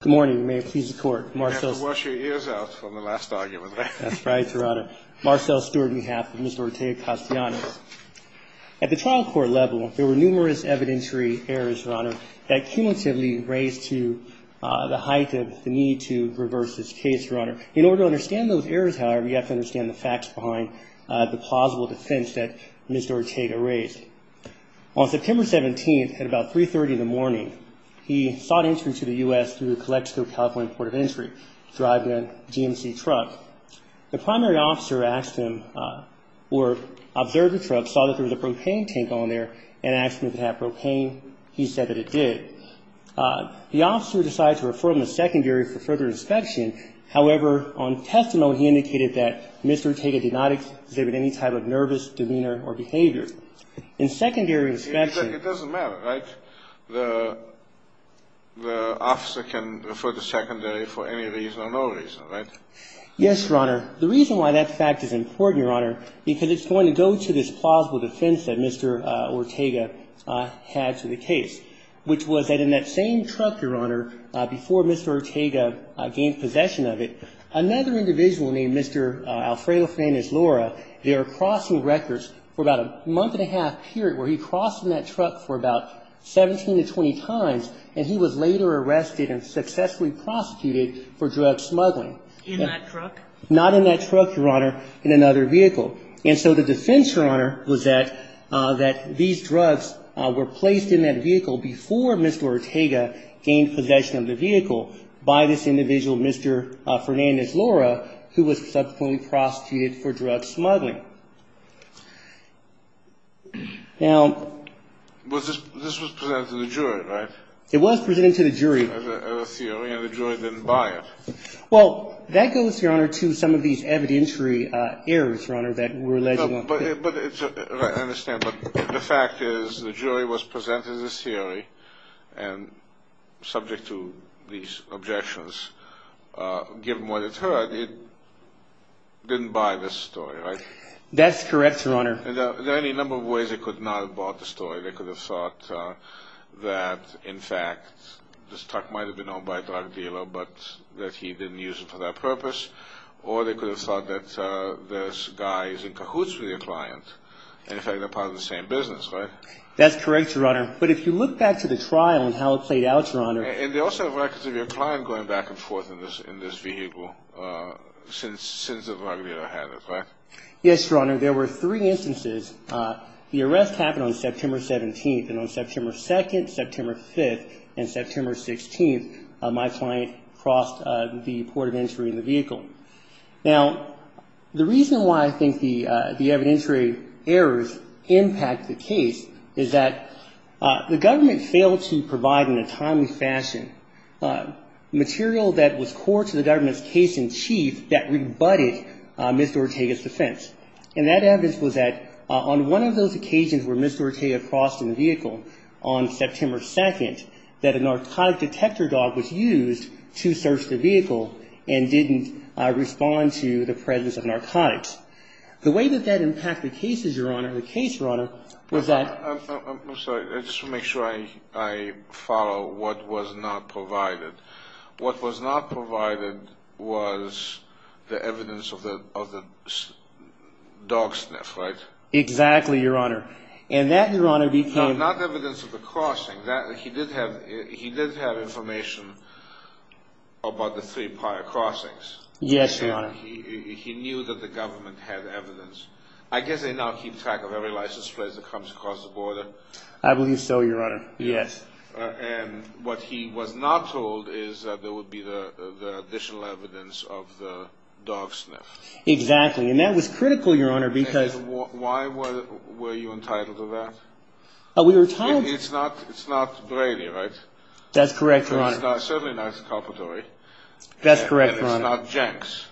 Good morning, and may it please the Court, Marcelle You have to wash your ears out from the last argument there. That's right, Your Honor. Marcelle Stewart on behalf of Mr. Ortega-Castellanos. At the trial court level, there were numerous evidentiary errors, Your Honor, that cumulatively raised to the height of the need to reverse this case, Your Honor. In order to understand those errors, however, you have to understand the facts behind the plausible defense that Mr. Ortega raised. On September 17th at about 3.30 in the morning, he sought entry to the U.S. through the Calexico-California Port of Entry, driving a GMC truck. The primary officer asked him or observed the truck, saw that there was a propane tank on there, and asked him if it had propane. He said that it did. The officer decided to refer him to secondary for further inspection. However, on testimony, he indicated that Mr. Ortega did not exhibit any type of nervous demeanor or behavior. In secondary inspection It doesn't matter, right? The officer can refer to secondary for any reason or no reason, right? Yes, Your Honor. The reason why that fact is important, Your Honor, because it's going to go to this plausible defense that Mr. Ortega had to the case, which was that in that same truck, Your Honor, before Mr. Ortega gained possession of it, another individual named Mr. Alfredo Fernandez-Lora, they were crossing records for about a month and a half period where he crossed in that truck for about 17 to 20 times, and he was later arrested and successfully prosecuted for drug smuggling. In that truck? Not in that truck, Your Honor. In another vehicle. And so the defense, Your Honor, was that these drugs were placed in that vehicle before Mr. Ortega gained possession of the vehicle by this individual, Mr. Fernandez-Lora, who was subsequently prosecuted for drug smuggling. Now This was presented to the jury, right? It was presented to the jury. As a theory, and the jury didn't buy it. Well, that goes, Your Honor, to some of these evidentiary errors, Your Honor, that were alleged. I understand, but the fact is the jury was presented this theory, and subject to these objections, given what it heard, it didn't buy this story, right? That's correct, Your Honor. There are any number of ways they could not have bought the story. They could have thought that, in fact, this truck might have been owned by a drug dealer, but that he didn't use it for that purpose. Or they could have thought that this guy is in cahoots with your client, and, in fact, they're part of the same business, right? That's correct, Your Honor. But if you look back to the trial and how it played out, Your Honor. And they also have records of your client going back and forth in this vehicle since the drug dealer had it, right? Yes, Your Honor. There were three instances. The arrest happened on September 17th, and on September 2nd, September 5th, and September 16th, my client crossed the port of entry in the vehicle. Now, the reason why I think the evidentiary errors impact the case is that the government failed to provide, in a timely fashion, material that was core to the government's case-in-chief that rebutted Ms. Dorotea's defense. And that evidence was that on one of those occasions where Ms. Dorotea crossed in the vehicle on September 2nd, that a narcotic detector dog was used to search the vehicle and didn't respond to the presence of narcotics. The way that that impacted cases, Your Honor, the case, Your Honor, was that ---- I'm sorry. I just want to make sure I follow what was not provided. What was not provided was the evidence of the dog sniff, right? Exactly, Your Honor. And that, Your Honor, became ---- Not evidence of the crossing. He did have information about the three prior crossings. Yes, Your Honor. And he knew that the government had evidence. I guess they now keep track of every license plate that comes across the border. I believe so, Your Honor. Yes. And what he was not told is that there would be the additional evidence of the dog sniff. Exactly. And that was critical, Your Honor, because ---- And why were you entitled to that? We were entitled ---- It's not Brady, right? That's correct, Your Honor. It's certainly not Calpatori. That's correct, Your Honor. And it's not Jenks.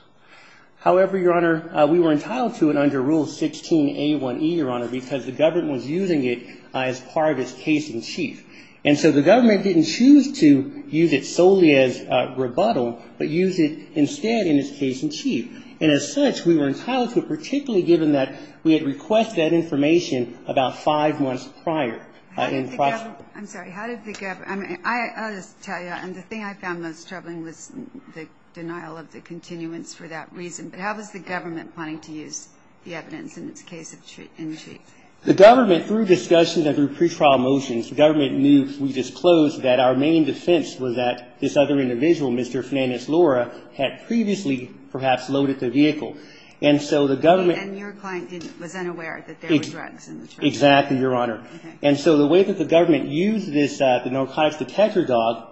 However, Your Honor, we were entitled to it under Rule 16A1E, Your Honor, because the government was using it as part of its case in chief. And so the government didn't choose to use it solely as rebuttal, but use it instead in its case in chief. And as such, we were entitled to it, particularly given that we had requested that information about five months prior. How did the government ---- I'm sorry. How did the government ---- I mean, I'll just tell you. And the thing I found most troubling was the denial of the continuance for that reason. But how was the government planning to use the evidence in its case in chief? The government, through discussions and through pretrial motions, the government knew if we disclosed that our main defense was that this other individual, Mr. Flannis Laura, had previously perhaps loaded the vehicle. And so the government ---- And your client was unaware that there were drugs in the truck. Exactly, Your Honor. Okay. And so the way that the government used this narcotics detector dog,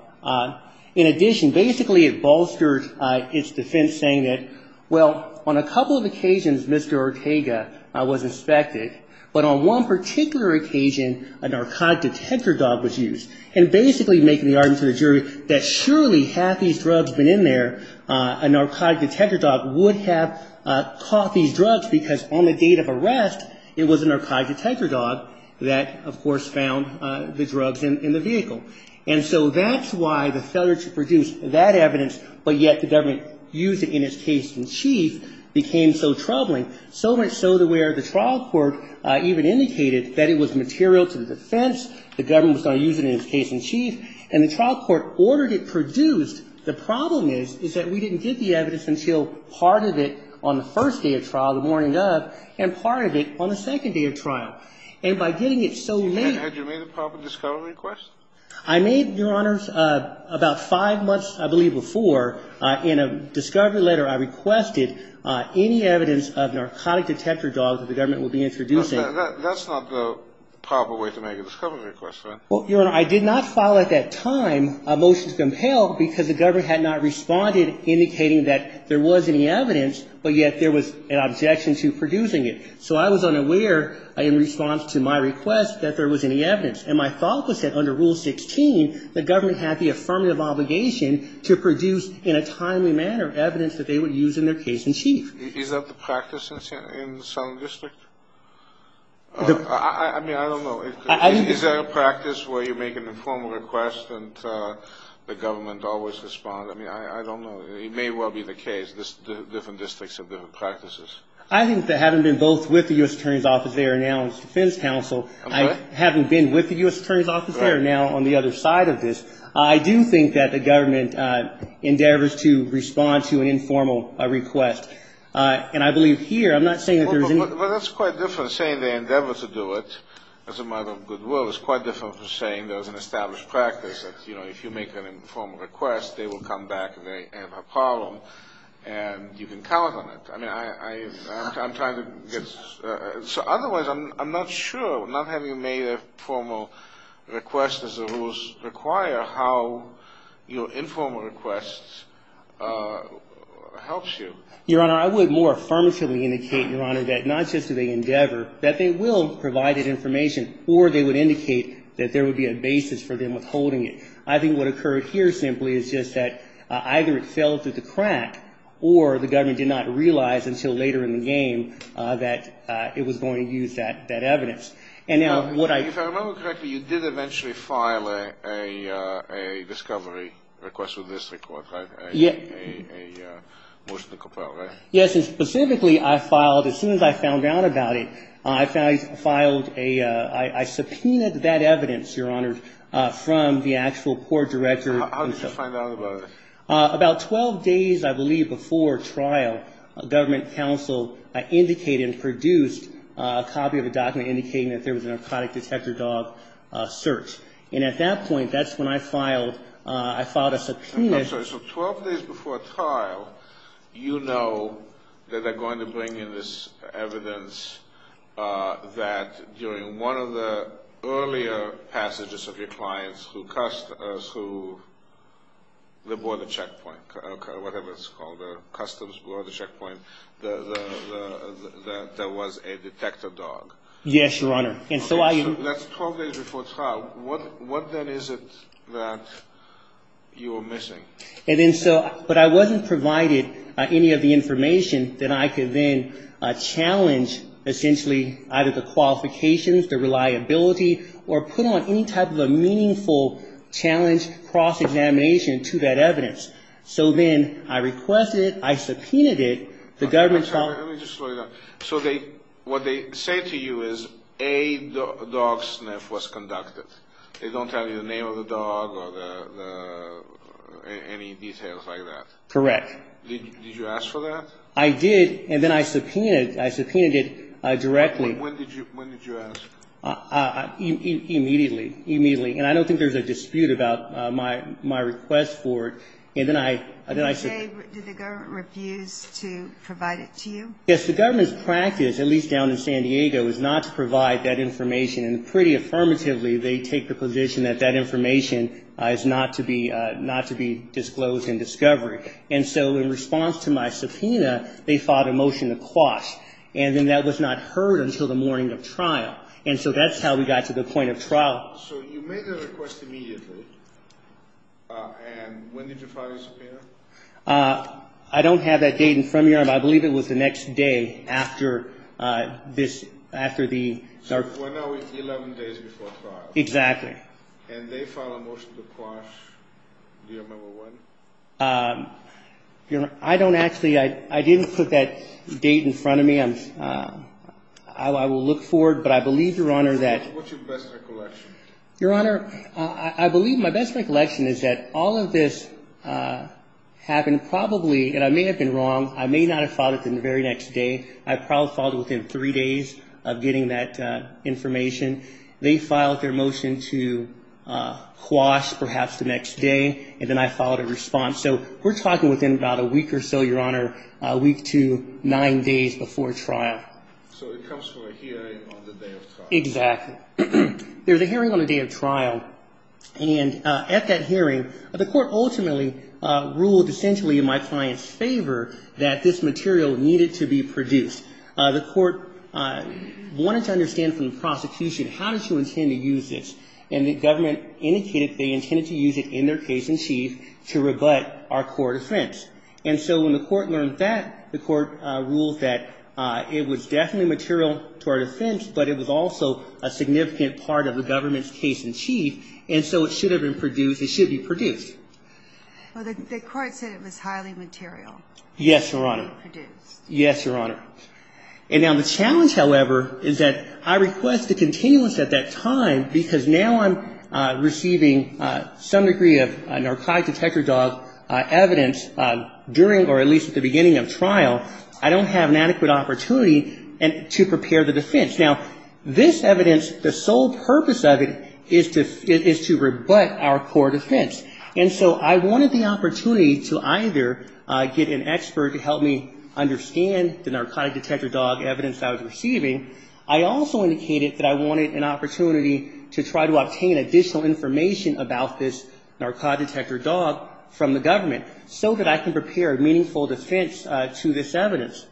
in addition, basically it bolstered its defense saying that, well, on a couple of occasions, Mr. Ortega was inspected, but on one particular occasion, a narcotic detector dog was used. And basically making the argument to the jury that surely had these drugs been in there, a narcotic detector dog would have caught these drugs because on the date of arrest, it was a narcotic detector dog that, of course, found the drugs in the vehicle. And so that's why the failure to produce that evidence, but yet the government used it in its case in chief, became so troubling, so much so that where the trial court even indicated that it was material to the defense, the government was going to use it in its case in chief, and the trial court ordered it produced. The problem is, is that we didn't get the evidence until part of it on the first day of trial, the morning of, and part of it on the second day of trial. And by getting it so late... Had you made a proper discovery request? I made, Your Honor, about five months, I believe, before. In a discovery letter, I requested any evidence of narcotic detector dogs that the government would be introducing. That's not the proper way to make a discovery request, right? Well, Your Honor, I did not file at that time a motion to compel because the government had not responded, indicating that there was any evidence, but yet there was an objection to producing it. So I was unaware, in response to my request, that there was any evidence. And my thought was that under Rule 16, the government had the affirmative obligation to produce in a timely manner evidence that they would use in their case in chief. Is that the practice in the Southern District? I mean, I don't know. Is that a practice where you make an informal request and the government always responds? I mean, I don't know. It may well be the case. Different districts have different practices. I think that having been both with the U.S. Attorney's Office there and now on the Defense Council, I haven't been with the U.S. Attorney's Office there and now on the other side of this. I do think that the government endeavors to respond to an informal request. And I believe here, I'm not saying that there's any... Well, that's quite different. Saying they endeavor to do it, as a matter of good will, is quite different from saying there's an established practice that, you know, if you make an informal request, they will come back and they have a problem and you can count on it. I mean, I'm trying to get... So otherwise, I'm not sure, not having made a formal request as the rules require, how your informal request helps you. Your Honor, I would more affirmatively indicate, Your Honor, that not just do they endeavor, that they will provide that information, or they would indicate that there would be a basis for them withholding it. I think what occurred here simply is just that either it fell through the crack or the government did not realize until later in the game that it was going to use that evidence. And now what I... If I remember correctly, you did eventually file a discovery request with this court, right? Yes. A motion to compel, right? Yes, and specifically, I filed, as soon as I found out about it, I filed a... I subpoenaed that evidence, Your Honor, from the actual court director. How did you find out about it? About 12 days, I believe, before trial, a government counsel indicated and produced a copy of a document indicating that there was a narcotic detector dog search. And at that point, that's when I filed, I filed a subpoena... I'm sorry. So 12 days before trial, you know that they're going to bring in this evidence that during one of the earlier passages of your clients through the border checkpoint, whatever it's called, the customs border checkpoint, that there was a detector dog. Yes, Your Honor. And so I... That's 12 days before trial. What then is it that you were missing? But I wasn't provided any of the information that I could then challenge, essentially, either the qualifications, the reliability, or put on any type of a meaningful challenge cross-examination to that evidence. So then I requested it, I subpoenaed it, the government... Let me just slow you down. So what they say to you is a dog sniff was conducted. They don't tell you the name of the dog or any details like that. Correct. Did you ask for that? I did, and then I subpoenaed it directly. When did you ask? Immediately. Immediately. And I don't think there's a dispute about my request for it. And then I... Did the government refuse to provide it to you? Yes, the government's practice, at least down in San Diego, is not to provide that information. And pretty affirmatively, they take the position that that information is not to be disclosed in discovery. And so in response to my subpoena, they filed a motion to quash. And then that was not heard until the morning of trial. And so that's how we got to the point of trial. So you made the request immediately, and when did you file your subpoena? I don't have that date in front of me. I believe it was the next day after this, after the... 11 days before trial. Exactly. And they filed a motion to quash. Do you remember when? I don't actually. I didn't put that date in front of me. I will look forward, but I believe, Your Honor, that... What's your best recollection? Your Honor, I believe my best recollection is that all of this happened probably, and I may have been wrong. I may not have filed it the very next day. I probably filed it within three days of getting that information. They filed their motion to quash perhaps the next day, and then I filed a response. So we're talking within about a week or so, Your Honor, a week to nine days before trial. So it comes from a hearing on the day of trial. Exactly. There's a hearing on the day of trial. And at that hearing, the court ultimately ruled essentially in my client's favor that this material needed to be produced. The court wanted to understand from the prosecution, how did you intend to use this? And the government indicated they intended to use it in their case in chief to rebut our court offense. And so when the court learned that, the court ruled that it was definitely material to our defense, but it was also a significant part of the government's case in chief, and so it should have been produced. It should be produced. Well, the court said it was highly material. Yes, Your Honor. To be produced. Yes, Your Honor. And now the challenge, however, is that I request a continuous at that time, because now I'm receiving some degree of narcotic detector dog evidence during or at least at the beginning of trial. I don't have an adequate opportunity to prepare the defense. Now, this evidence, the sole purpose of it is to rebut our court offense. And so I wanted the opportunity to either get an expert to help me understand the narcotic detector dog evidence I was receiving. I also indicated that I wanted an opportunity to try to obtain additional information about this narcotic detector dog from the government, so that I can prepare a meaningful defense to this evidence.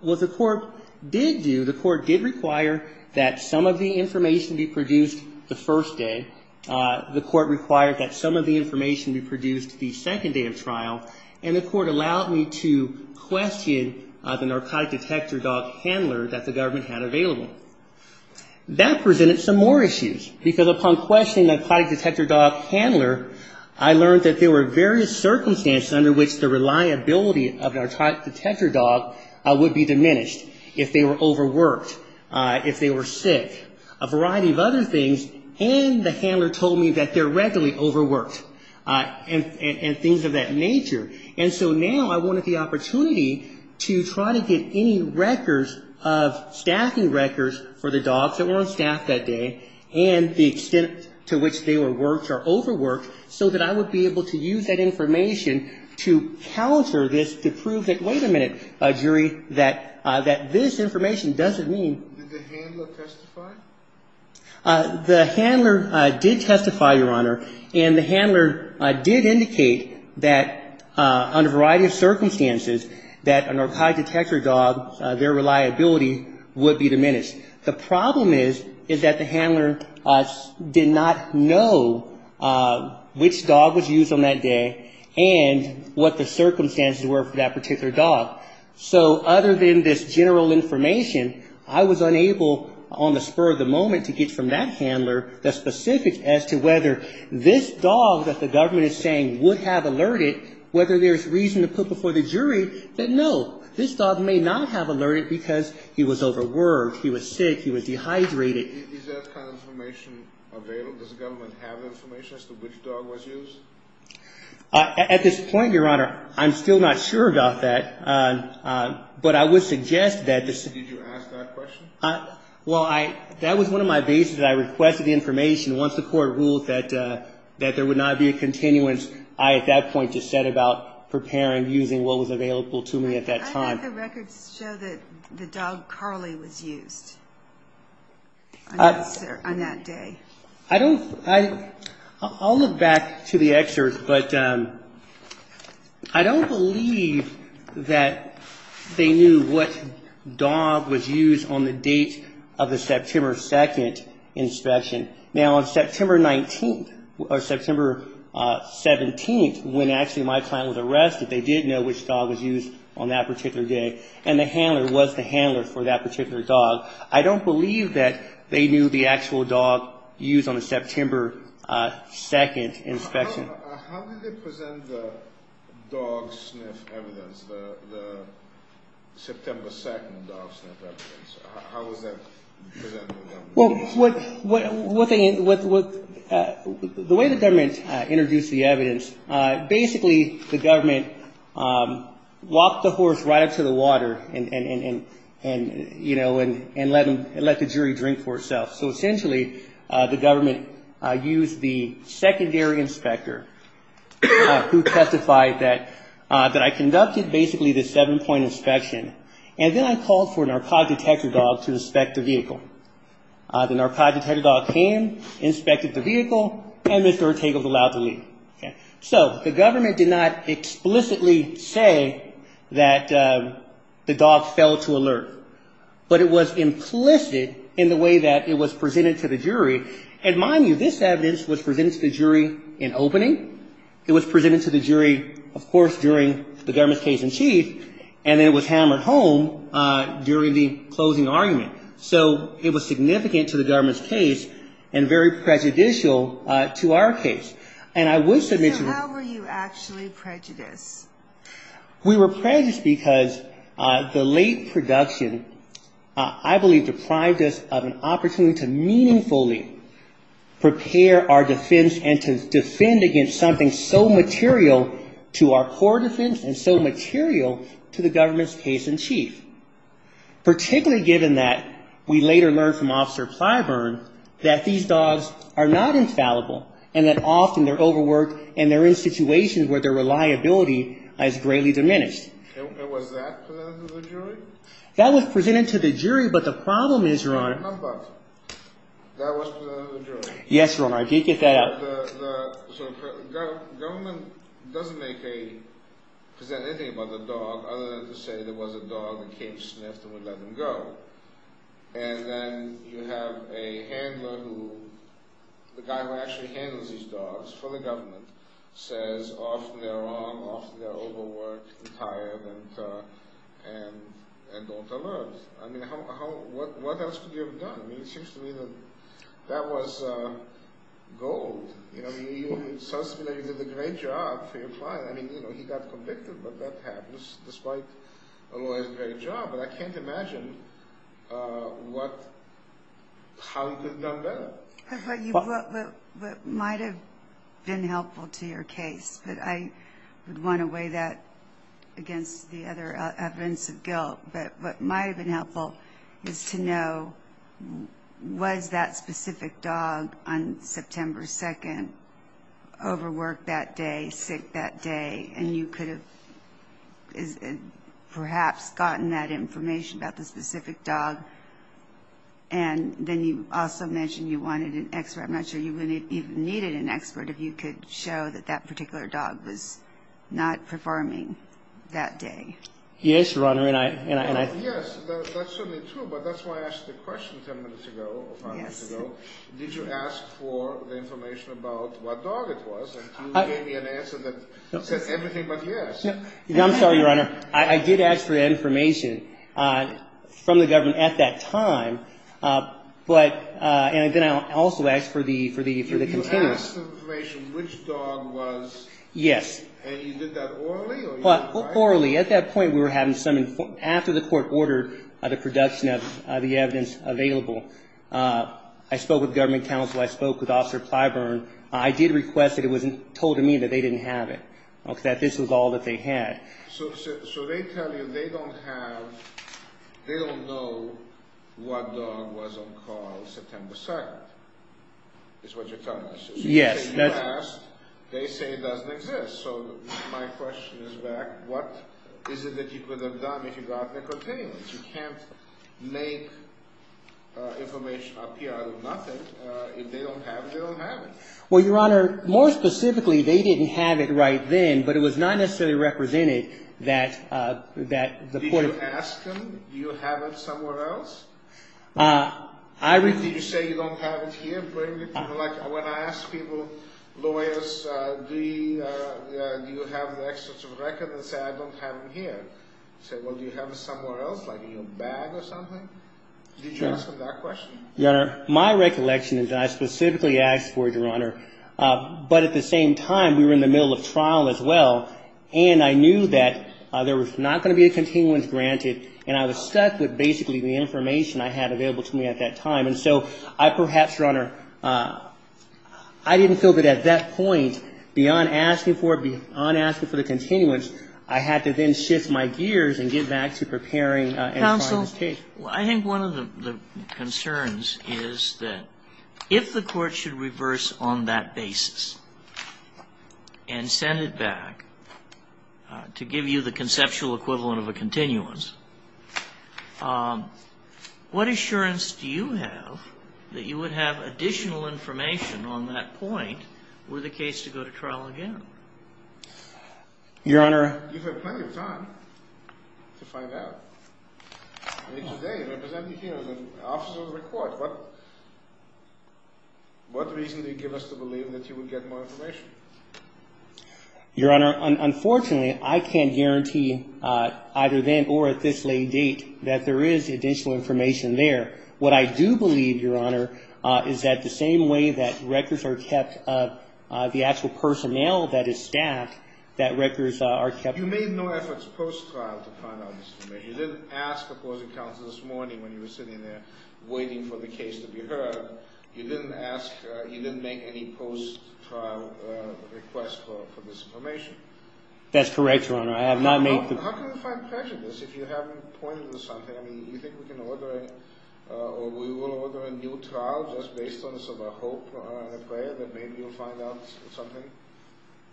What the court did do, the court did require that some of the information be produced the first day. The court required that some of the information be produced the second day of trial. And the court allowed me to question the narcotic detector dog handler that the government had available. That presented some more issues, because upon questioning the narcotic detector dog handler, I learned that there were various circumstances under which the reliability of a narcotic detector dog would be diminished. If they were overworked, if they were sick, a variety of other things. And the handler told me that they're regularly overworked, and things of that nature. And so now I wanted the opportunity to try to get any records of staffing records for the dogs that weren't staffed that day, and the extent to which they were worked or overworked, so that I would be able to use that information to counter this, to prove that, wait a minute, jury, that this information doesn't mean... The handler did testify, Your Honor, and the handler did indicate that under a variety of circumstances that a narcotic detector dog, their reliability would be diminished. The problem is, is that the handler did not know which dog was used on that day, and what the circumstances were for that particular dog. So other than this general information, I was unable on the spur of the moment to get from that handler the specifics as to whether this dog that the government is saying would have alerted, whether there's reason to put before the jury, that no, this dog may not have alerted because he was overworked, he was sick, he was dehydrated. Is that kind of information available? Does the government have information as to which dog was used? At this point, Your Honor, I'm still not sure about that. But I would suggest that... Did you ask that question? Well, that was one of my bases. I requested the information. Once the court ruled that there would not be a continuance, I at that point just set about preparing using what was available to me at that time. I have the records show that the dog Carly was used on that day. I'll look back to the excerpt, but I don't believe that they knew what dog was used on the date of the September 2nd inspection. Now, on September 19th, or September 17th, when actually my client was arrested, they did know which dog was used on that particular day. And the handler was the handler for that particular dog. I don't believe that they knew the actual dog used on the September 2nd inspection. How did they present the dog sniff evidence, the September 2nd dog sniff evidence? How was that presented to the government? Well, the way the government introduced the evidence, basically the government walked the horse right up to the water and, you know, and let the jury drink for itself. So essentially the government used the secondary inspector who testified that I conducted basically the seven-point inspection, and then I called for a narcotic detector dog to inspect the vehicle. The narcotic detector dog came, inspected the vehicle, and Mr. Ortega was allowed to leave. So the government did not explicitly say that the dog fell to alert. But it was implicit in the way that it was presented to the jury. And mind you, this evidence was presented to the jury in opening. It was presented to the jury, of course, during the government's case in chief, and then it was hammered home during the closing argument. So it was significant to the government's case and very prejudicial to our case. And I would submit to the... So how were you actually prejudiced? We were prejudiced because the late production, I believe, deprived us of an opportunity to meaningfully prepare our defense and to defend against something so material to our core defense and so material to the government's case in chief, particularly given that we later learned from Officer Plyburn that these dogs are not infallible, and that often they're overworked and they're in situations where their reliability has greatly diminished. And was that presented to the jury? That was presented to the jury, but the problem is, Your Honor... But that was presented to the jury. Yes, Your Honor, if you could get that out. The government doesn't present anything about the dog other than to say there was a dog that came sniffed and we let him go. And then you have a handler who... The guy who actually handles these dogs for the government says often they're wrong, often they're overworked, tired, and don't alert. I mean, what else could you have done? I mean, it seems to me that that was gold. I mean, it sounds to me like you did a great job for your client. I mean, he got convicted, but that happens, despite a lawyer's great job. But I can't imagine how you could have done better. What might have been helpful to your case, but I would want to weigh that against the other evidence of guilt, but what might have been helpful is to know was that specific dog on September 2nd overworked that day, sick that day, and you could have perhaps gotten that information about the specific dog, and then you also mentioned you wanted an expert. I'm not sure you even needed an expert if you could show that that particular dog was not performing that day. Yes, Your Honor, and I... Yes, that's certainly true, but that's why I asked the question ten minutes ago, five minutes ago. Did you ask for the information about what dog it was, and you gave me an answer that said everything but yes. No, I'm sorry, Your Honor. I did ask for that information from the government at that time, but then I also asked for the... You asked for the information which dog was... Yes. And you did that orally or... Orally. At that point, we were having some... After the court ordered the production of the evidence available, I spoke with government counsel. I spoke with Officer Plyburn. I did request that it was told to me that they didn't have it, that this was all that they had. So they tell you they don't have... They don't know what dog was on call September 2nd, is what you're telling us. Yes. Well, Your Honor, more specifically, they didn't have it right then, but it was not necessarily represented that the court... Did you ask them, do you have it somewhere else? Did you say you don't have it here? When I ask people, lawyers, do you have the records and say, I don't have it here. I say, well, do you have it somewhere else, like in your bag or something? Did you ask them that question? Your Honor, my recollection is that I specifically asked for it, Your Honor, but at the same time, we were in the middle of trial as well, and I knew that there was not going to be a continuance granted, and I was stuck with basically the information I had available to me at that time. And so I perhaps, Your Honor, I didn't feel that at that point, beyond asking for it, beyond asking for the continuance, I had to then shift my gears and get back to preparing and filing this case. Counsel, I think one of the concerns is that if the court should reverse on that basis and send it back, to give you the conceptual equivalent of a continuance, what assurance do you have that you would have additional information on that point were the case to go to trial again? Your Honor. You have plenty of time to find out. Today, representing here as an officer of the court, what reason do you give us to believe that you would get more information? Unfortunately, I can't guarantee either then or at this late date that there is additional information there. What I do believe, Your Honor, is that the same way that records are kept, the actual personnel that is staffed, that records are kept You made no efforts post-trial to find out this information. You didn't ask opposing counsel this morning when you were sitting there waiting for the case to be heard. You didn't ask, you didn't make any post-trial request for this information. That's correct, Your Honor, I have not made the How can we find prejudice if you haven't pointed to something? I mean, you think we can order, or we will order a new trial just based on a hope and a prayer that maybe you'll find out something?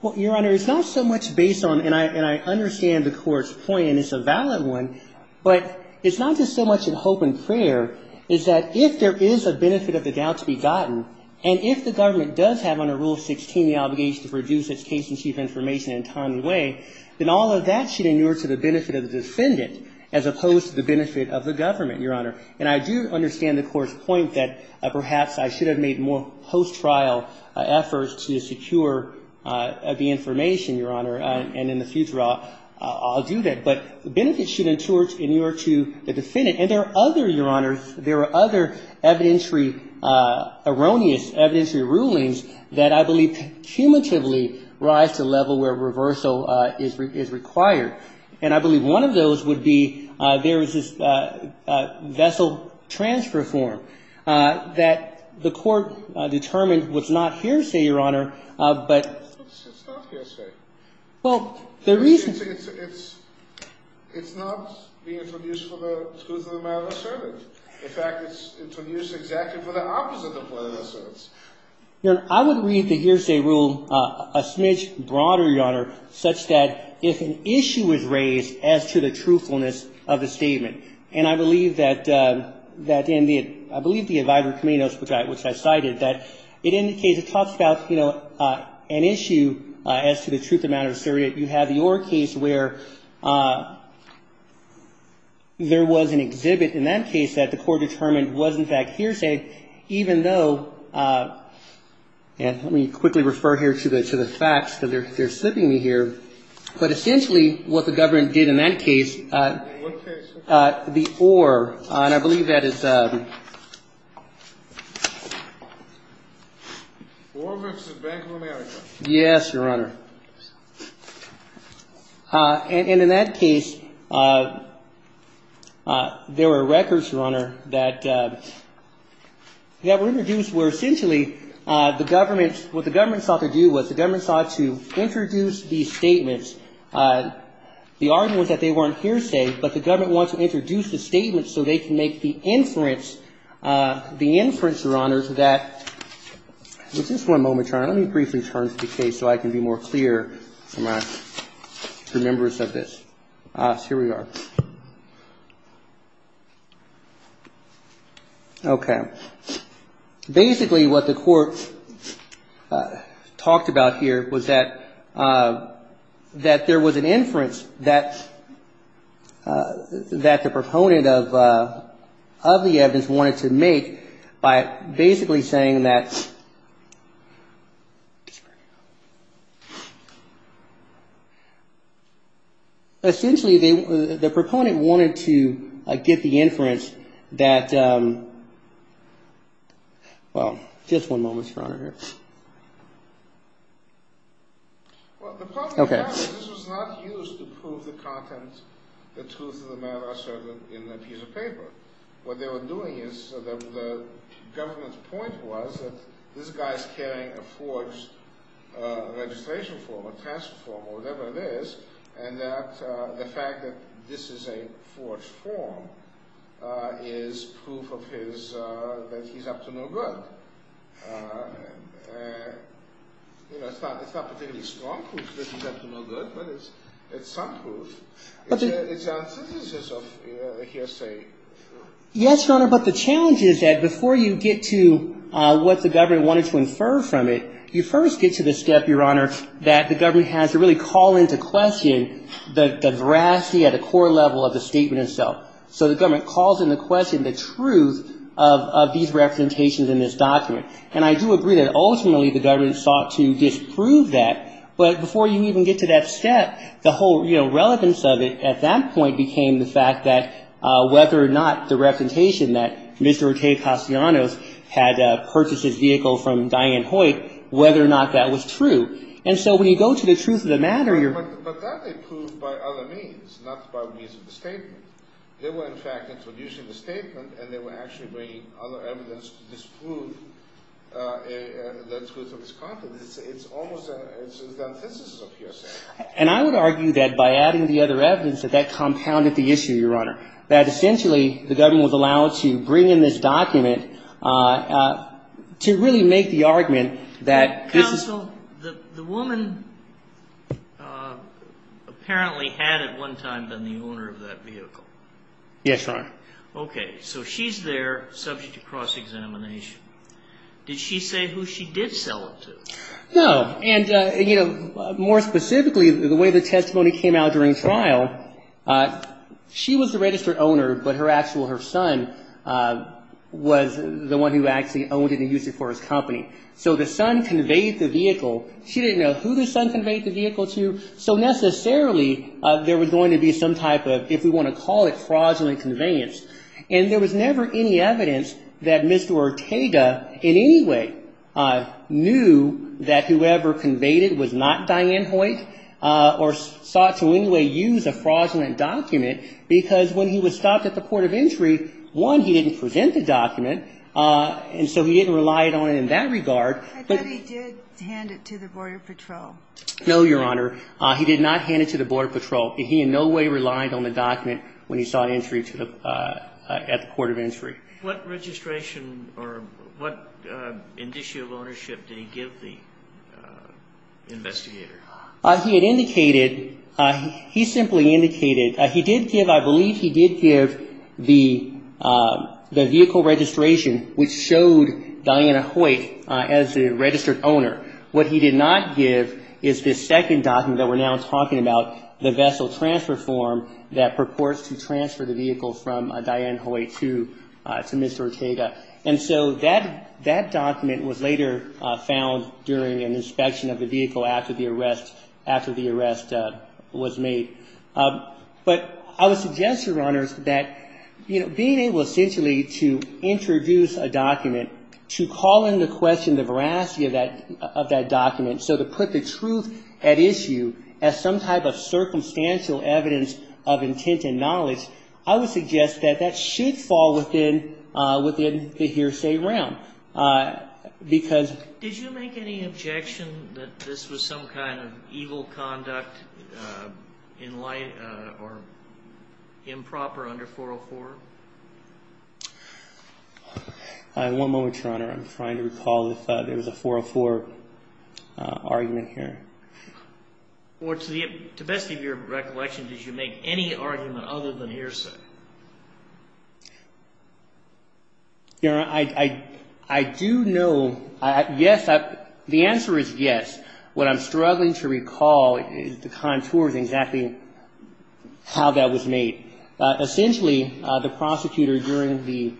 Well, Your Honor, it's not so much based on, and I understand the court's point, and it's a valid one, but it's not just so much in hope and prayer, it's that if there is a benefit of the doubt to be gotten, and if the government does have under Rule 16 the obligation to produce its case-in-chief information in a timely way, then all of that should inure to the benefit of the defendant as opposed to the benefit of the government, Your Honor. And I do understand the court's point that perhaps I should have made more post-trial efforts to secure the information, Your Honor, and in the future I'll do that, but benefits should inure to the defendant. And there are other, Your Honor, there are other evidentiary erroneous, evidentiary rulings that I believe cumulatively rise to the level where reversal is required. And I believe one of those would be there is this vessel transfer form that the court determined was not hearsay, Your Honor, but it's not hearsay. It's not being produced for the truth of the matter asserted. In fact, it's being produced exactly for the opposite of what it asserts. I would read the hearsay rule a smidge broader, Your Honor, such that if an issue is raised as to the truthfulness of the statement, and I believe that in the, I believe the ad vivum cumminus, which I cited, that it indicates, it talks about, you know, an issue as to the truth of the matter asserted. You have the Orr case where there was an exhibit in that case that the court determined was in fact hearsay, even though, and let me quickly refer here to the facts because they're slipping me here, but essentially what the government did in that case, the Orr, and I believe that is, Orr lives in Bangalore, America. Yes, Your Honor. And in that case, there were records, Your Honor, that were introduced where essentially the government, what the government sought to do was the government sought to introduce these statements. The argument was that they weren't hearsay, but the government wanted to introduce the statements so they could make the inference, and just one moment, Your Honor, let me briefly turn to the case so I can be more clear in my remembrance of this. Here we are. Okay. Basically what the court talked about here was that there was an inference that the proponent of the evidence wanted to make by basically saying that essentially the proponent wanted to get the inference that, well, just one moment, Your Honor. Okay. And the argument was that this guy's carrying a forged registration form, a task form, or whatever it is, and that the fact that this is a forged form is proof of his, that he's up to no good. You know, it's not particularly strong proof that he's up to no good, but it's some proof. It's a synthesis of hearsay. Yes, Your Honor, but the challenge is that before you get to what the government wanted to infer from it, you first get to the step, Your Honor, that the government has to really call into question the veracity at a core level of the statement itself. So the government calls into question the truth of these representations in this document, and I do agree that ultimately the government sought to disprove that, but before you even get to that step, the whole, you know, relevance of it at that point became the fact that Mr. Ortega-Castellanos had purchased his vehicle from Diane Hoyt, whether or not that was true. And so when you go to the truth of the matter, you're... But that they proved by other means, not by means of the statement. They were, in fact, introducing the statement, and they were actually bringing other evidence to disprove the truth of this content. It's almost a synthesis of hearsay. And I would argue that by adding the other evidence, that that compounded the issue, Your Honor, that essentially the government was allowed to bring in this document to really make the argument that this is... Counsel, the woman apparently had at one time been the owner of that vehicle. Yes, Your Honor. Okay, so she's there subject to cross-examination. Did she say who she did sell it to? No. And, you know, more specifically, the way the testimony came out during trial, she was the registered owner, but her actual, her son, was the one who actually owned it and used it for his company. So the son conveyed the vehicle. She didn't know who the son conveyed the vehicle to, so necessarily there was going to be some type of, if we want to call it, fraudulent conveyance. And there was never any evidence that Mr. Ortega in any way knew that whoever conveyed it was not Diane Hoyt or sought to in any way use a fraudulent document, because when he was stopped at the Port of Entry, one, he didn't present the document, and so he didn't rely on it in that regard. I thought he did hand it to the Border Patrol. No, Your Honor. He did not hand it to the Border Patrol. He in no way relied on the document when he sought entry to the, at the Port of Entry. What type of ownership did he give the investigator? He had indicated, he simply indicated, he did give, I believe he did give the vehicle registration, which showed Diane Hoyt as the registered owner. What he did not give is this second document that we're now talking about, the vessel transfer form that purports to transfer the vehicle from Diane Hoyt to Mr. Ortega. And so that document was later, you know, later found during an inspection of the vehicle after the arrest, after the arrest was made. But I would suggest, Your Honors, that, you know, being able essentially to introduce a document, to call into question the veracity of that document, so to put the truth at issue as some type of circumstantial evidence of intent and knowledge, I would suggest that that should fall within the hearsay realm. Because... Did you make any objection that this was some kind of evil conduct in light or improper under 404? One moment, Your Honor. I'm trying to recall if there was a 404 argument here. Or to the best of your recollection, did you make any argument other than hearsay? Your Honor, I do know, yes, the answer is yes. What I'm struggling to recall is the contours of exactly how that was made. Essentially, the prosecutor during the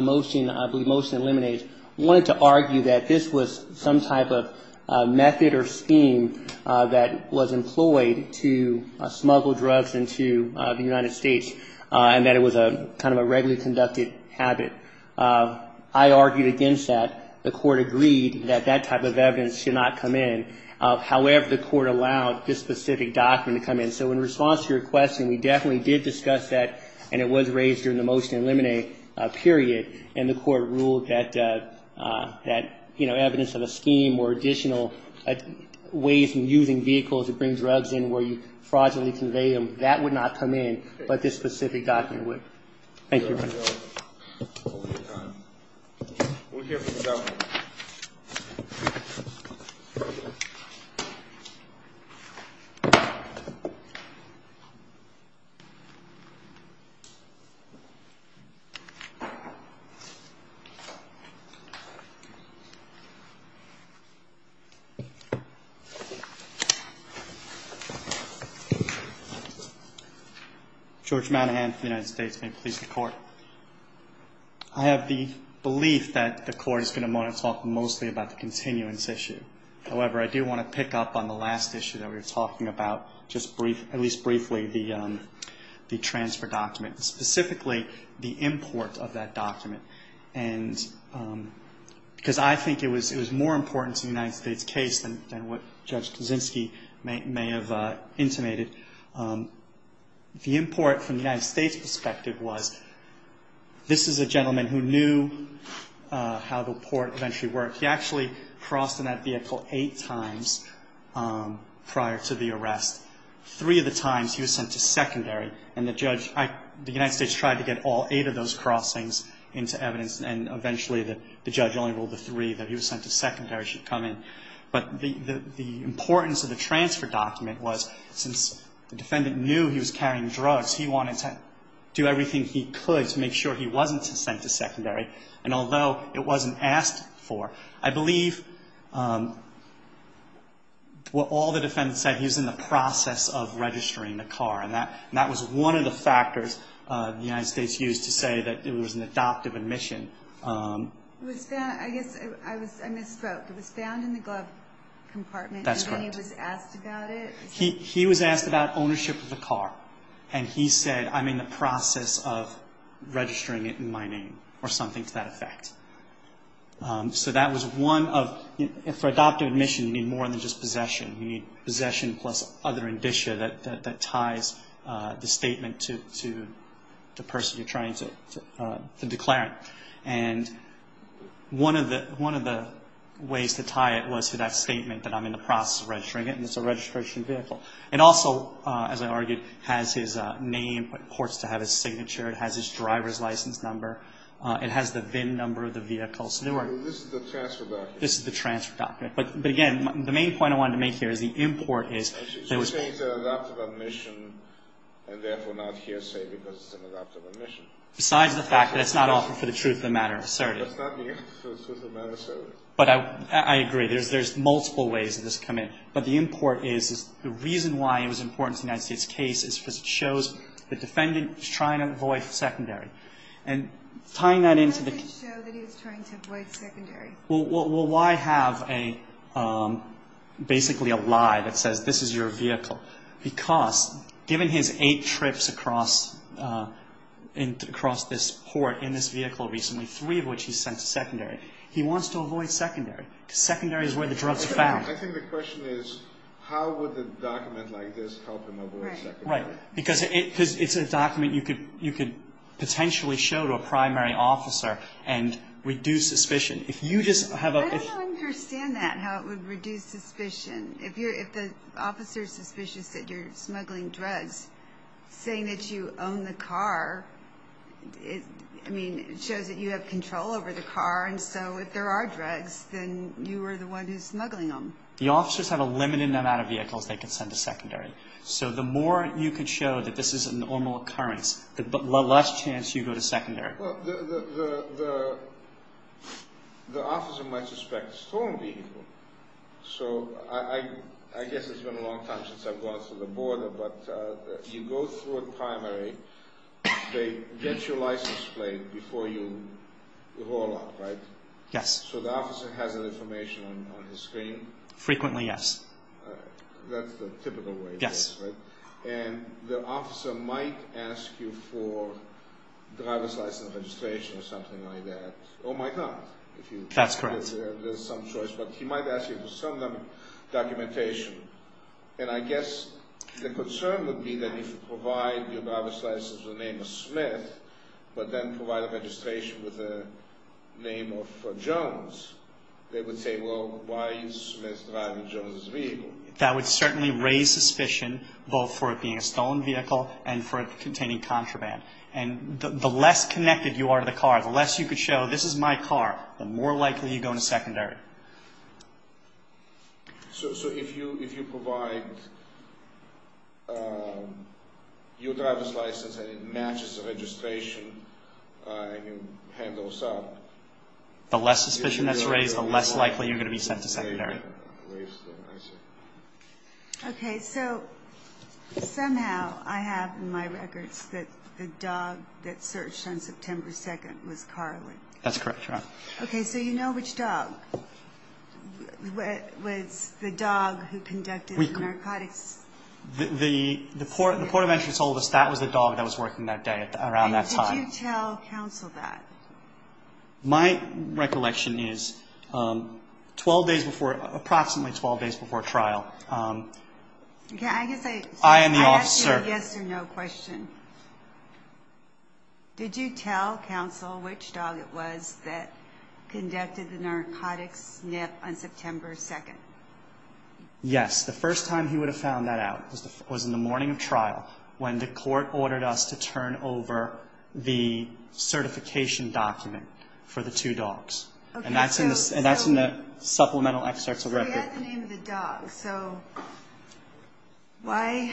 motion, I believe motion eliminates, wanted to argue that this was some type of method or scheme that was employed to smuggle drugs into the United States. And that it was a kind of a regularly conducted habit. I argued against that. The court agreed that that type of evidence should not come in. However, the court allowed this specific document to come in. So in response to your question, we definitely did discuss that, and it was raised during the motion to eliminate period. And the court ruled that, you know, evidence of a scheme or additional ways in using vehicles to bring drugs in where you fraudulently convey them, that would not come in, but this specific document would. Thank you, Your Honor. I have the belief that the court is going to want to talk mostly about the continuance issue. However, I do want to pick up on the last issue that we were talking about, at least briefly, the transfer document. Specifically, the import of that document. Because I think it was more important to the United States case than what Judge Kaczynski may have intimated. The import from the United States perspective was, this is a gentleman who knew how the port eventually worked. He actually crossed in that vehicle eight times prior to the arrest. Three of the times he was sent to secondary, and the judge, the United States tried to get all eight of those crossings into evidence, and eventually the judge only ruled the three that he was sent to secondary should come in. But the importance of the transfer document was, since the defendant knew he was carrying drugs, he wanted to do everything he could to make sure he wasn't sent to secondary. And although it wasn't asked for, I believe what all the defendants said, he was in the process of registering the car. And that was one of the factors the United States used to say that it was an adoptive admission. It was found, I misspoke, it was found in the glove compartment, and then he was asked about it? He was asked about ownership of the car, and he said, I'm in the process of registering it in my name, or something to that effect. So that was one of, for adoptive admission you need more than just possession. You need possession plus other indicia that ties the statement to the person you're trying to declare. And one of the ways to tie it was to that statement that I'm in the process of registering it, and it's a registration vehicle. It also, as I argued, has his name, of course, to have his signature. It has his driver's license number. It has the VIN number of the vehicle. This is the transfer document? This is the transfer document. But again, the main point I wanted to make here is the import is... It's an adoptive admission, and therefore not hearsay because it's an adoptive admission. Besides the fact that it's not offered for the truth of the matter asserted. It's not the truth of the matter asserted. But I agree. There's multiple ways that this can come in. But the import is, the reason why it was important to the United States case is because it shows the defendant was trying to avoid secondary. And tying that into the... It doesn't show that he was trying to avoid secondary. Well, why have basically a lie that says this is your vehicle? Because given his eight trips across this port in this vehicle recently, three of which he's sent to secondary, he wants to avoid secondary. Because secondary is where the drugs are found. I think the question is, how would a document like this help him avoid secondary? Right. Because it's a document you could potentially show to a primary officer and reduce suspicion. If you just have a... I don't understand that, how it would reduce suspicion. If the officer is suspicious that you're smuggling drugs, saying that you own the car, it shows that you have control over the car. And so if there are drugs, then you are the one who's smuggling them. The officers have a limited amount of vehicles they can send to secondary. So the more you can show that this is a normal occurrence, the less chance you go to secondary. Well, the officer might suspect stolen vehicle. So I guess it's been a long time since I've gone through the border, but you go through a primary. They get your license plate before you roll up, right? Yes. So the officer has that information on his screen? Frequently, yes. That's the typical way it is, right? Yes. And the officer might ask you for driver's license registration or something like that. Or might not. That's correct. There's some choice. But he might ask you for some documentation. And I guess the concern would be that if you provide your driver's license with the name of Smith, but then provide a registration with the name of Jones, they would say, well, why is Smith driving Jones' vehicle? That would certainly raise suspicion, both for it being a stolen vehicle and for it containing contraband. And the less connected you are to the car, the less you could show this is my car, the more likely you go to secondary. So if you provide your driver's license and it matches the registration and you hand those out? The less suspicion that's raised, the less likely you're going to be sent to secondary. Okay. So somehow I have in my records that the dog that searched on September 2nd was Carlin. That's correct, Your Honor. Okay. So you know which dog? Was the dog who conducted the narcotics? The port of entrance told us that was the dog that was working that day around that time. Did you tell counsel that? My recollection is approximately 12 days before trial. I am the officer. I ask you a yes or no question. Did you tell counsel which dog it was that conducted the narcotics sniff on September 2nd? Yes. The first time he would have found that out was in the morning of trial when the court ordered us to turn over the certification document for the two dogs. And that's in the supplemental excerpts of the record. So you had the name of the dog. So why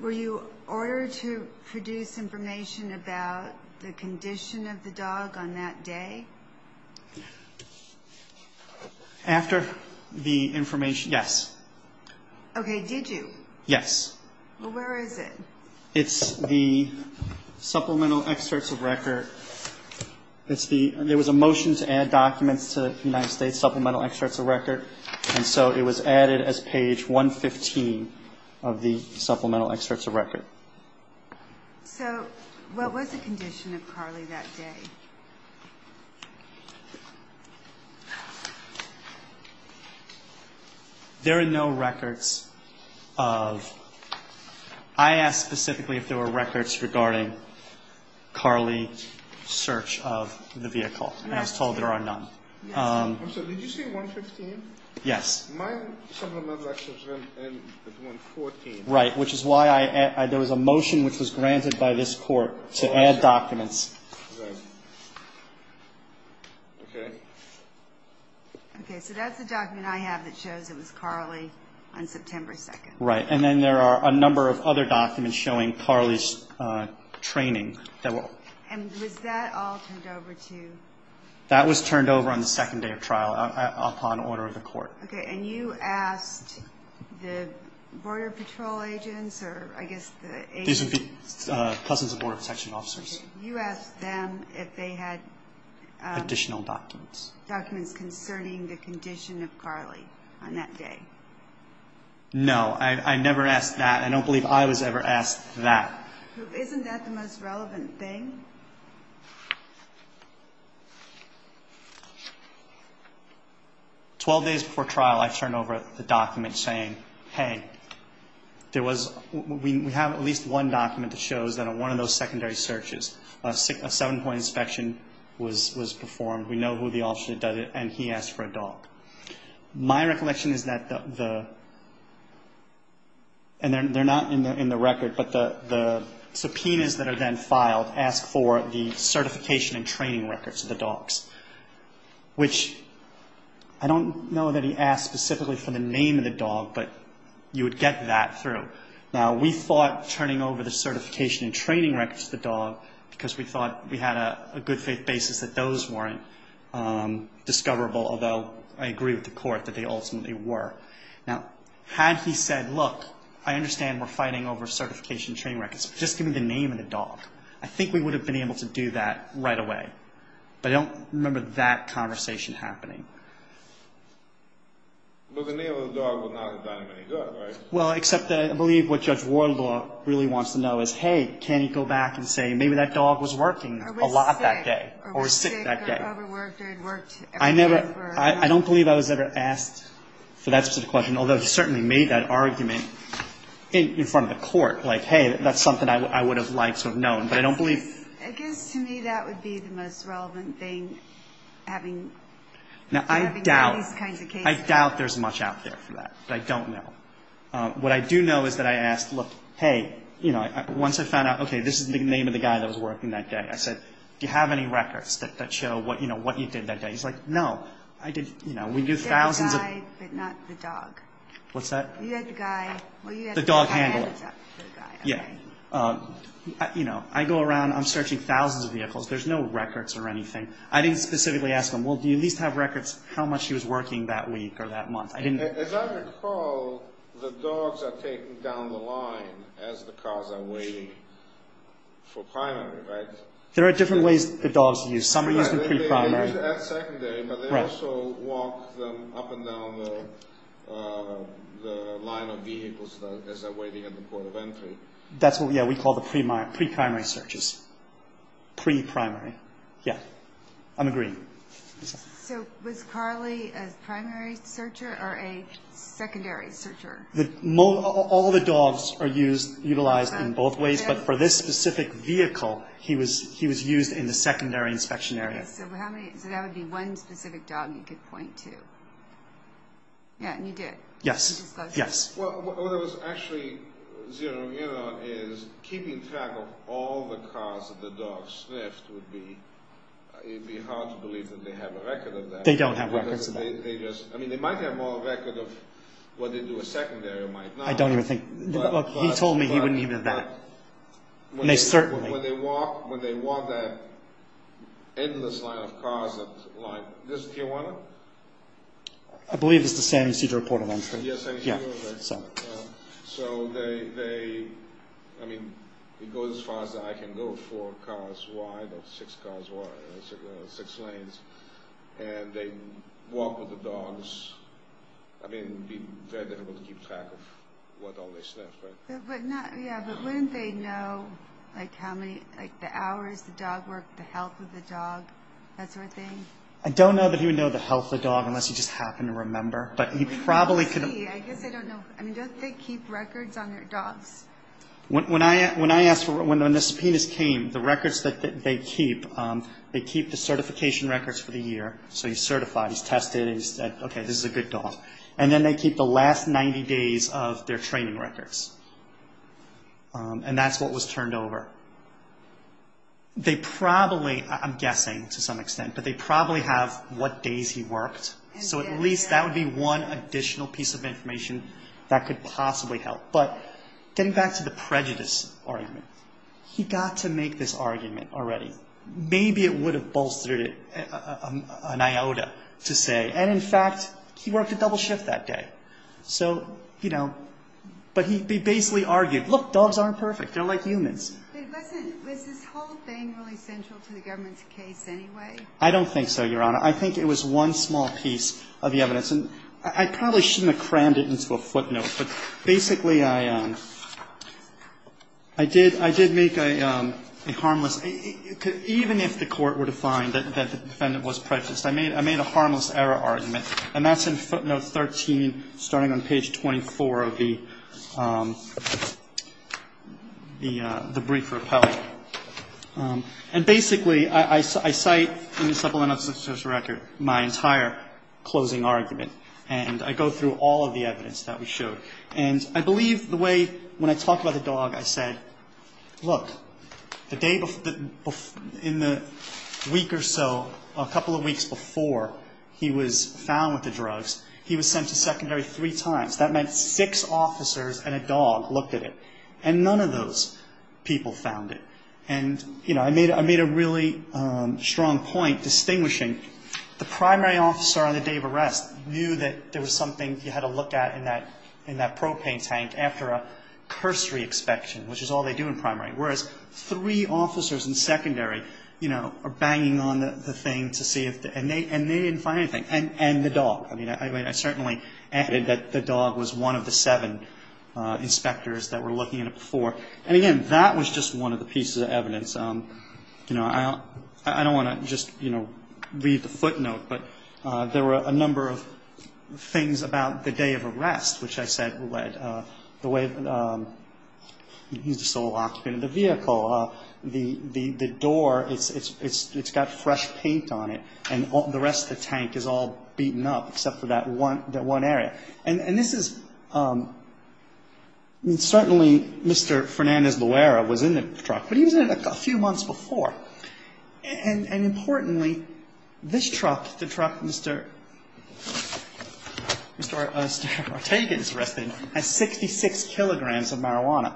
were you ordered to produce information about the condition of the dog on that day? After the information, yes. Okay. Did you? Yes. Well, where is it? It's the supplemental excerpts of record. There was a motion to add documents to the United States supplemental excerpts of record, So what was the condition of Carly that day? There are no records of – I asked specifically if there were records regarding Carly's search of the vehicle. And I was told there are none. I'm sorry, did you say 115? Yes. My supplemental excerpts end at 114. Right, which is why there was a motion which was granted by this court to add documents. Okay. Okay, so that's the document I have that shows it was Carly on September 2nd. Right, and then there are a number of other documents showing Carly's training. And was that all turned over to? That was turned over on the second day of trial upon order of the court. Okay, and you asked the Border Patrol agents or I guess the agents? Cousins of Border Protection officers. You asked them if they had? Additional documents. Documents concerning the condition of Carly on that day. No, I never asked that. I don't believe I was ever asked that. Isn't that the most relevant thing? Twelve days before trial, I turned over the document saying, hey, there was, we have at least one document that shows that on one of those secondary searches, a seven-point inspection was performed. We know who the officer that did it, and he asked for a dog. My recollection is that the, and they're not in the record, but the subpoenas that are then filed ask for the certification and training records of the dogs, which I don't know that he asked specifically for the name of the dog, but you would get that through. Now, we thought turning over the certification and training records to the dog, because we thought we had a good faith basis that those weren't discoverable, although I agree with the court that they ultimately were. Now, had he said, look, I understand we're fighting over certification and training records, but just give me the name of the dog, I think we would have been able to do that right away. But I don't remember that conversation happening. Well, the name of the dog would not have done him any good, right? Well, except I believe what Judge Wardlaw really wants to know is, hey, can you go back and say maybe that dog was working a lot that day, or was sick that day. Or was sick, or probably worked every day. I don't believe I was ever asked for that specific question, although he certainly made that argument in front of the court. Like, hey, that's something I would have liked to have known, but I don't believe. I guess to me that would be the most relevant thing, having these kinds of cases. Now, I doubt there's much out there for that, but I don't know. What I do know is that I asked, look, hey, once I found out, okay, this is the name of the guy that was working that day. I said, do you have any records that show what you did that day? And he's like, no. There's a guy, but not the dog. What's that? You had the guy. The dog handler. Yeah. I go around, I'm searching thousands of vehicles. There's no records or anything. I didn't specifically ask him, well, do you at least have records of how much he was working that week or that month? As I recall, the dogs are taken down the line as the cars are waiting for primary, right? There are different ways the dogs are used. Some are used in pre-primary. They're used at secondary, but they also walk them up and down the line of vehicles as they're waiting at the point of entry. That's what we call the pre-primary searches. Pre-primary. Yeah. I'm agreeing. So was Carly a primary searcher or a secondary searcher? All the dogs are utilized in both ways, but for this specific vehicle, he was used in the secondary inspection area. So that would be one specific dog you could point to. Yeah, and you did. Yes. Well, what I was actually, you know, is keeping track of all the cars that the dogs sniffed would be hard to believe that they have a record of that. They don't have records of that. I mean, they might have more of a record of when they do a secondary or might not. I don't even think. Look, he told me he wouldn't even have that. And they certainly. When they walk that endless line of cars, like this Tijuana? I believe it's the San Ysidro Port of Entry. Yes, San Ysidro. Yeah. So they, I mean, it goes as far as I can go four cars wide or six lanes, and they walk with the dogs. I mean, it would be very difficult to keep track of what all they sniffed. Yeah, but wouldn't they know, like, how many, like, the hours the dog worked, the health of the dog, that sort of thing? I don't know that he would know the health of the dog unless he just happened to remember. But he probably could. Let's see. I guess I don't know. I mean, don't they keep records on their dogs? When I asked, when the subpoenas came, the records that they keep, they keep the certification records for the year. So he's certified, he's tested, and he said, okay, this is a good dog. And then they keep the last 90 days of their training records. And that's what was turned over. They probably, I'm guessing to some extent, but they probably have what days he worked. So at least that would be one additional piece of information that could possibly help. But getting back to the prejudice argument, he got to make this argument already. Maybe it would have bolstered an iota to say, and in fact, he worked a double shift that day. So, you know, but he basically argued, look, dogs aren't perfect. They're like humans. But wasn't, was this whole thing really central to the government's case anyway? I don't think so, Your Honor. I think it was one small piece of the evidence. And I probably shouldn't have crammed it into a footnote. But basically, I did make a harmless, even if the court were to find that the defendant was prejudiced, I made a harmless error argument. And that's in footnote 13, starting on page 24 of the brief repellent. And basically, I cite in the supplemental justice record my entire closing argument. And I go through all of the evidence that we showed. And I believe the way, when I talked about the dog, I said, look, the day before, in the week or so, a couple of weeks before he was found with the drugs, he was sent to secondary three times. That meant six officers and a dog looked at it. And none of those people found it. And, you know, I made a really strong point distinguishing the primary officer on the day of arrest knew that there was something he had to look at in that propane tank after a cursory inspection, which is all they do in primary. Whereas, three officers in secondary, you know, are banging on the thing to see if, and they didn't find anything. And the dog. I mean, I certainly added that the dog was one of the seven inspectors that were looking at it before. And, again, that was just one of the pieces of evidence. You know, I don't want to just, you know, read the footnote, but there were a number of things about the day of arrest, which I said, the way he's the sole occupant of the vehicle, the door, it's got fresh paint on it, and the rest of the tank is all beaten up except for that one area. And this is, I mean, certainly Mr. Fernandez-Luera was in the truck, but he was in it a few months before. And, importantly, this truck, the truck Mr. Ortega is arrested in, has 66 kilograms of marijuana.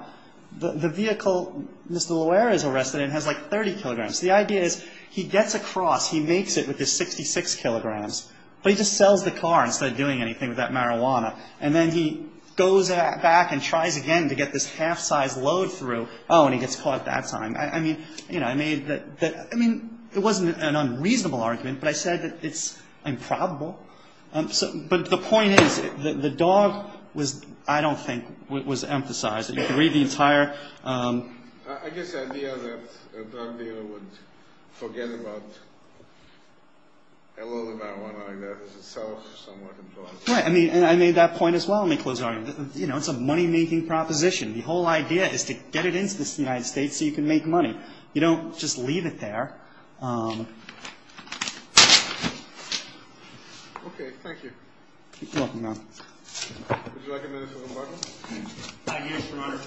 The vehicle Mr. Luera is arrested in has, like, 30 kilograms. The idea is he gets across, he makes it with his 66 kilograms, but he just sells the car instead of doing anything with that marijuana. And then he goes back and tries again to get this half-size load through. Oh, and he gets caught that time. I mean, you know, I made that, I mean, it wasn't an unreasonable argument, but I said that it's improbable. But the point is, the dog was, I don't think, was emphasized. You can read the entire... I guess the idea that a drug dealer would forget about a load of marijuana is itself somewhat implausible. Right, and I made that point as well. Let me close it out. You know, it's a money-making proposition. The whole idea is to get it into the United States so you can make money. You don't just leave it there. Okay, thank you. You're welcome, Your Honor. Would you like a minute for rebuttal? Yes, Your Honor.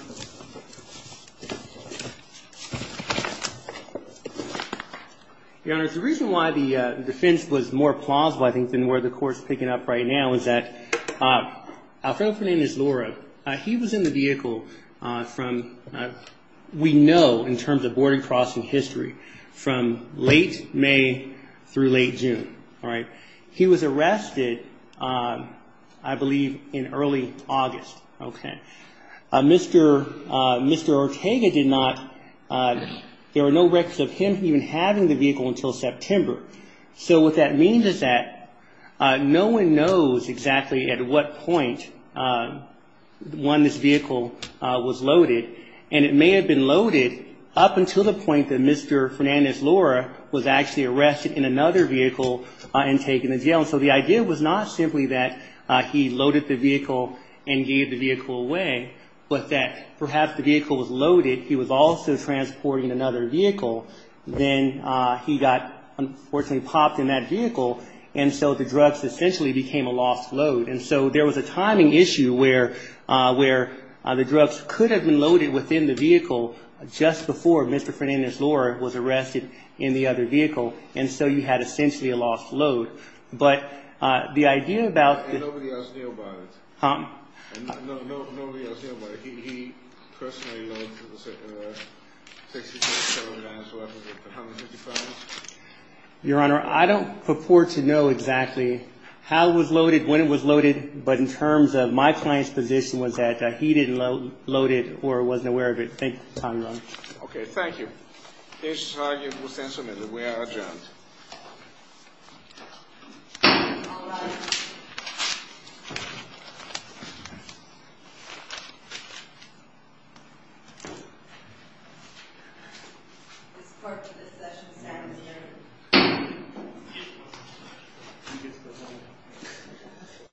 Your Honor, the reason why the defense was more plausible, I think, than where the court's picking up right now, is that Alfredo Fernandez Lora, he was in the vehicle from, we know in terms of border crossing history, from late May through late June, all right? He was arrested, I believe, in early August, okay? Mr. Ortega did not, there were no records of him even having the vehicle until September. So what that means is that no one knows exactly at what point when this vehicle was loaded. And it may have been loaded up until the point that Mr. Fernandez Lora was actually arrested in another vehicle and taken to jail. So the idea was not simply that he loaded the vehicle and gave the vehicle away, but that perhaps the vehicle was loaded, he was also transporting another vehicle. Then he got, unfortunately, popped in that vehicle, and so the drugs essentially became a lost load. And so there was a timing issue where the drugs could have been loaded within the vehicle just before Mr. Fernandez Lora was arrested in the other vehicle, and so you had essentially a lost load. But the idea about the... Nobody else knew about it. Huh? Nobody else knew about it. He personally loaded the 66-caliber dinosaur weapon with 150 pounds? Your Honor, I don't purport to know exactly how it was loaded, when it was loaded, but in terms of my client's position was that he didn't load it or wasn't aware of it. Thank you for your time, Your Honor. Okay, thank you. This is how it was implemented. We are adjourned. Thank you.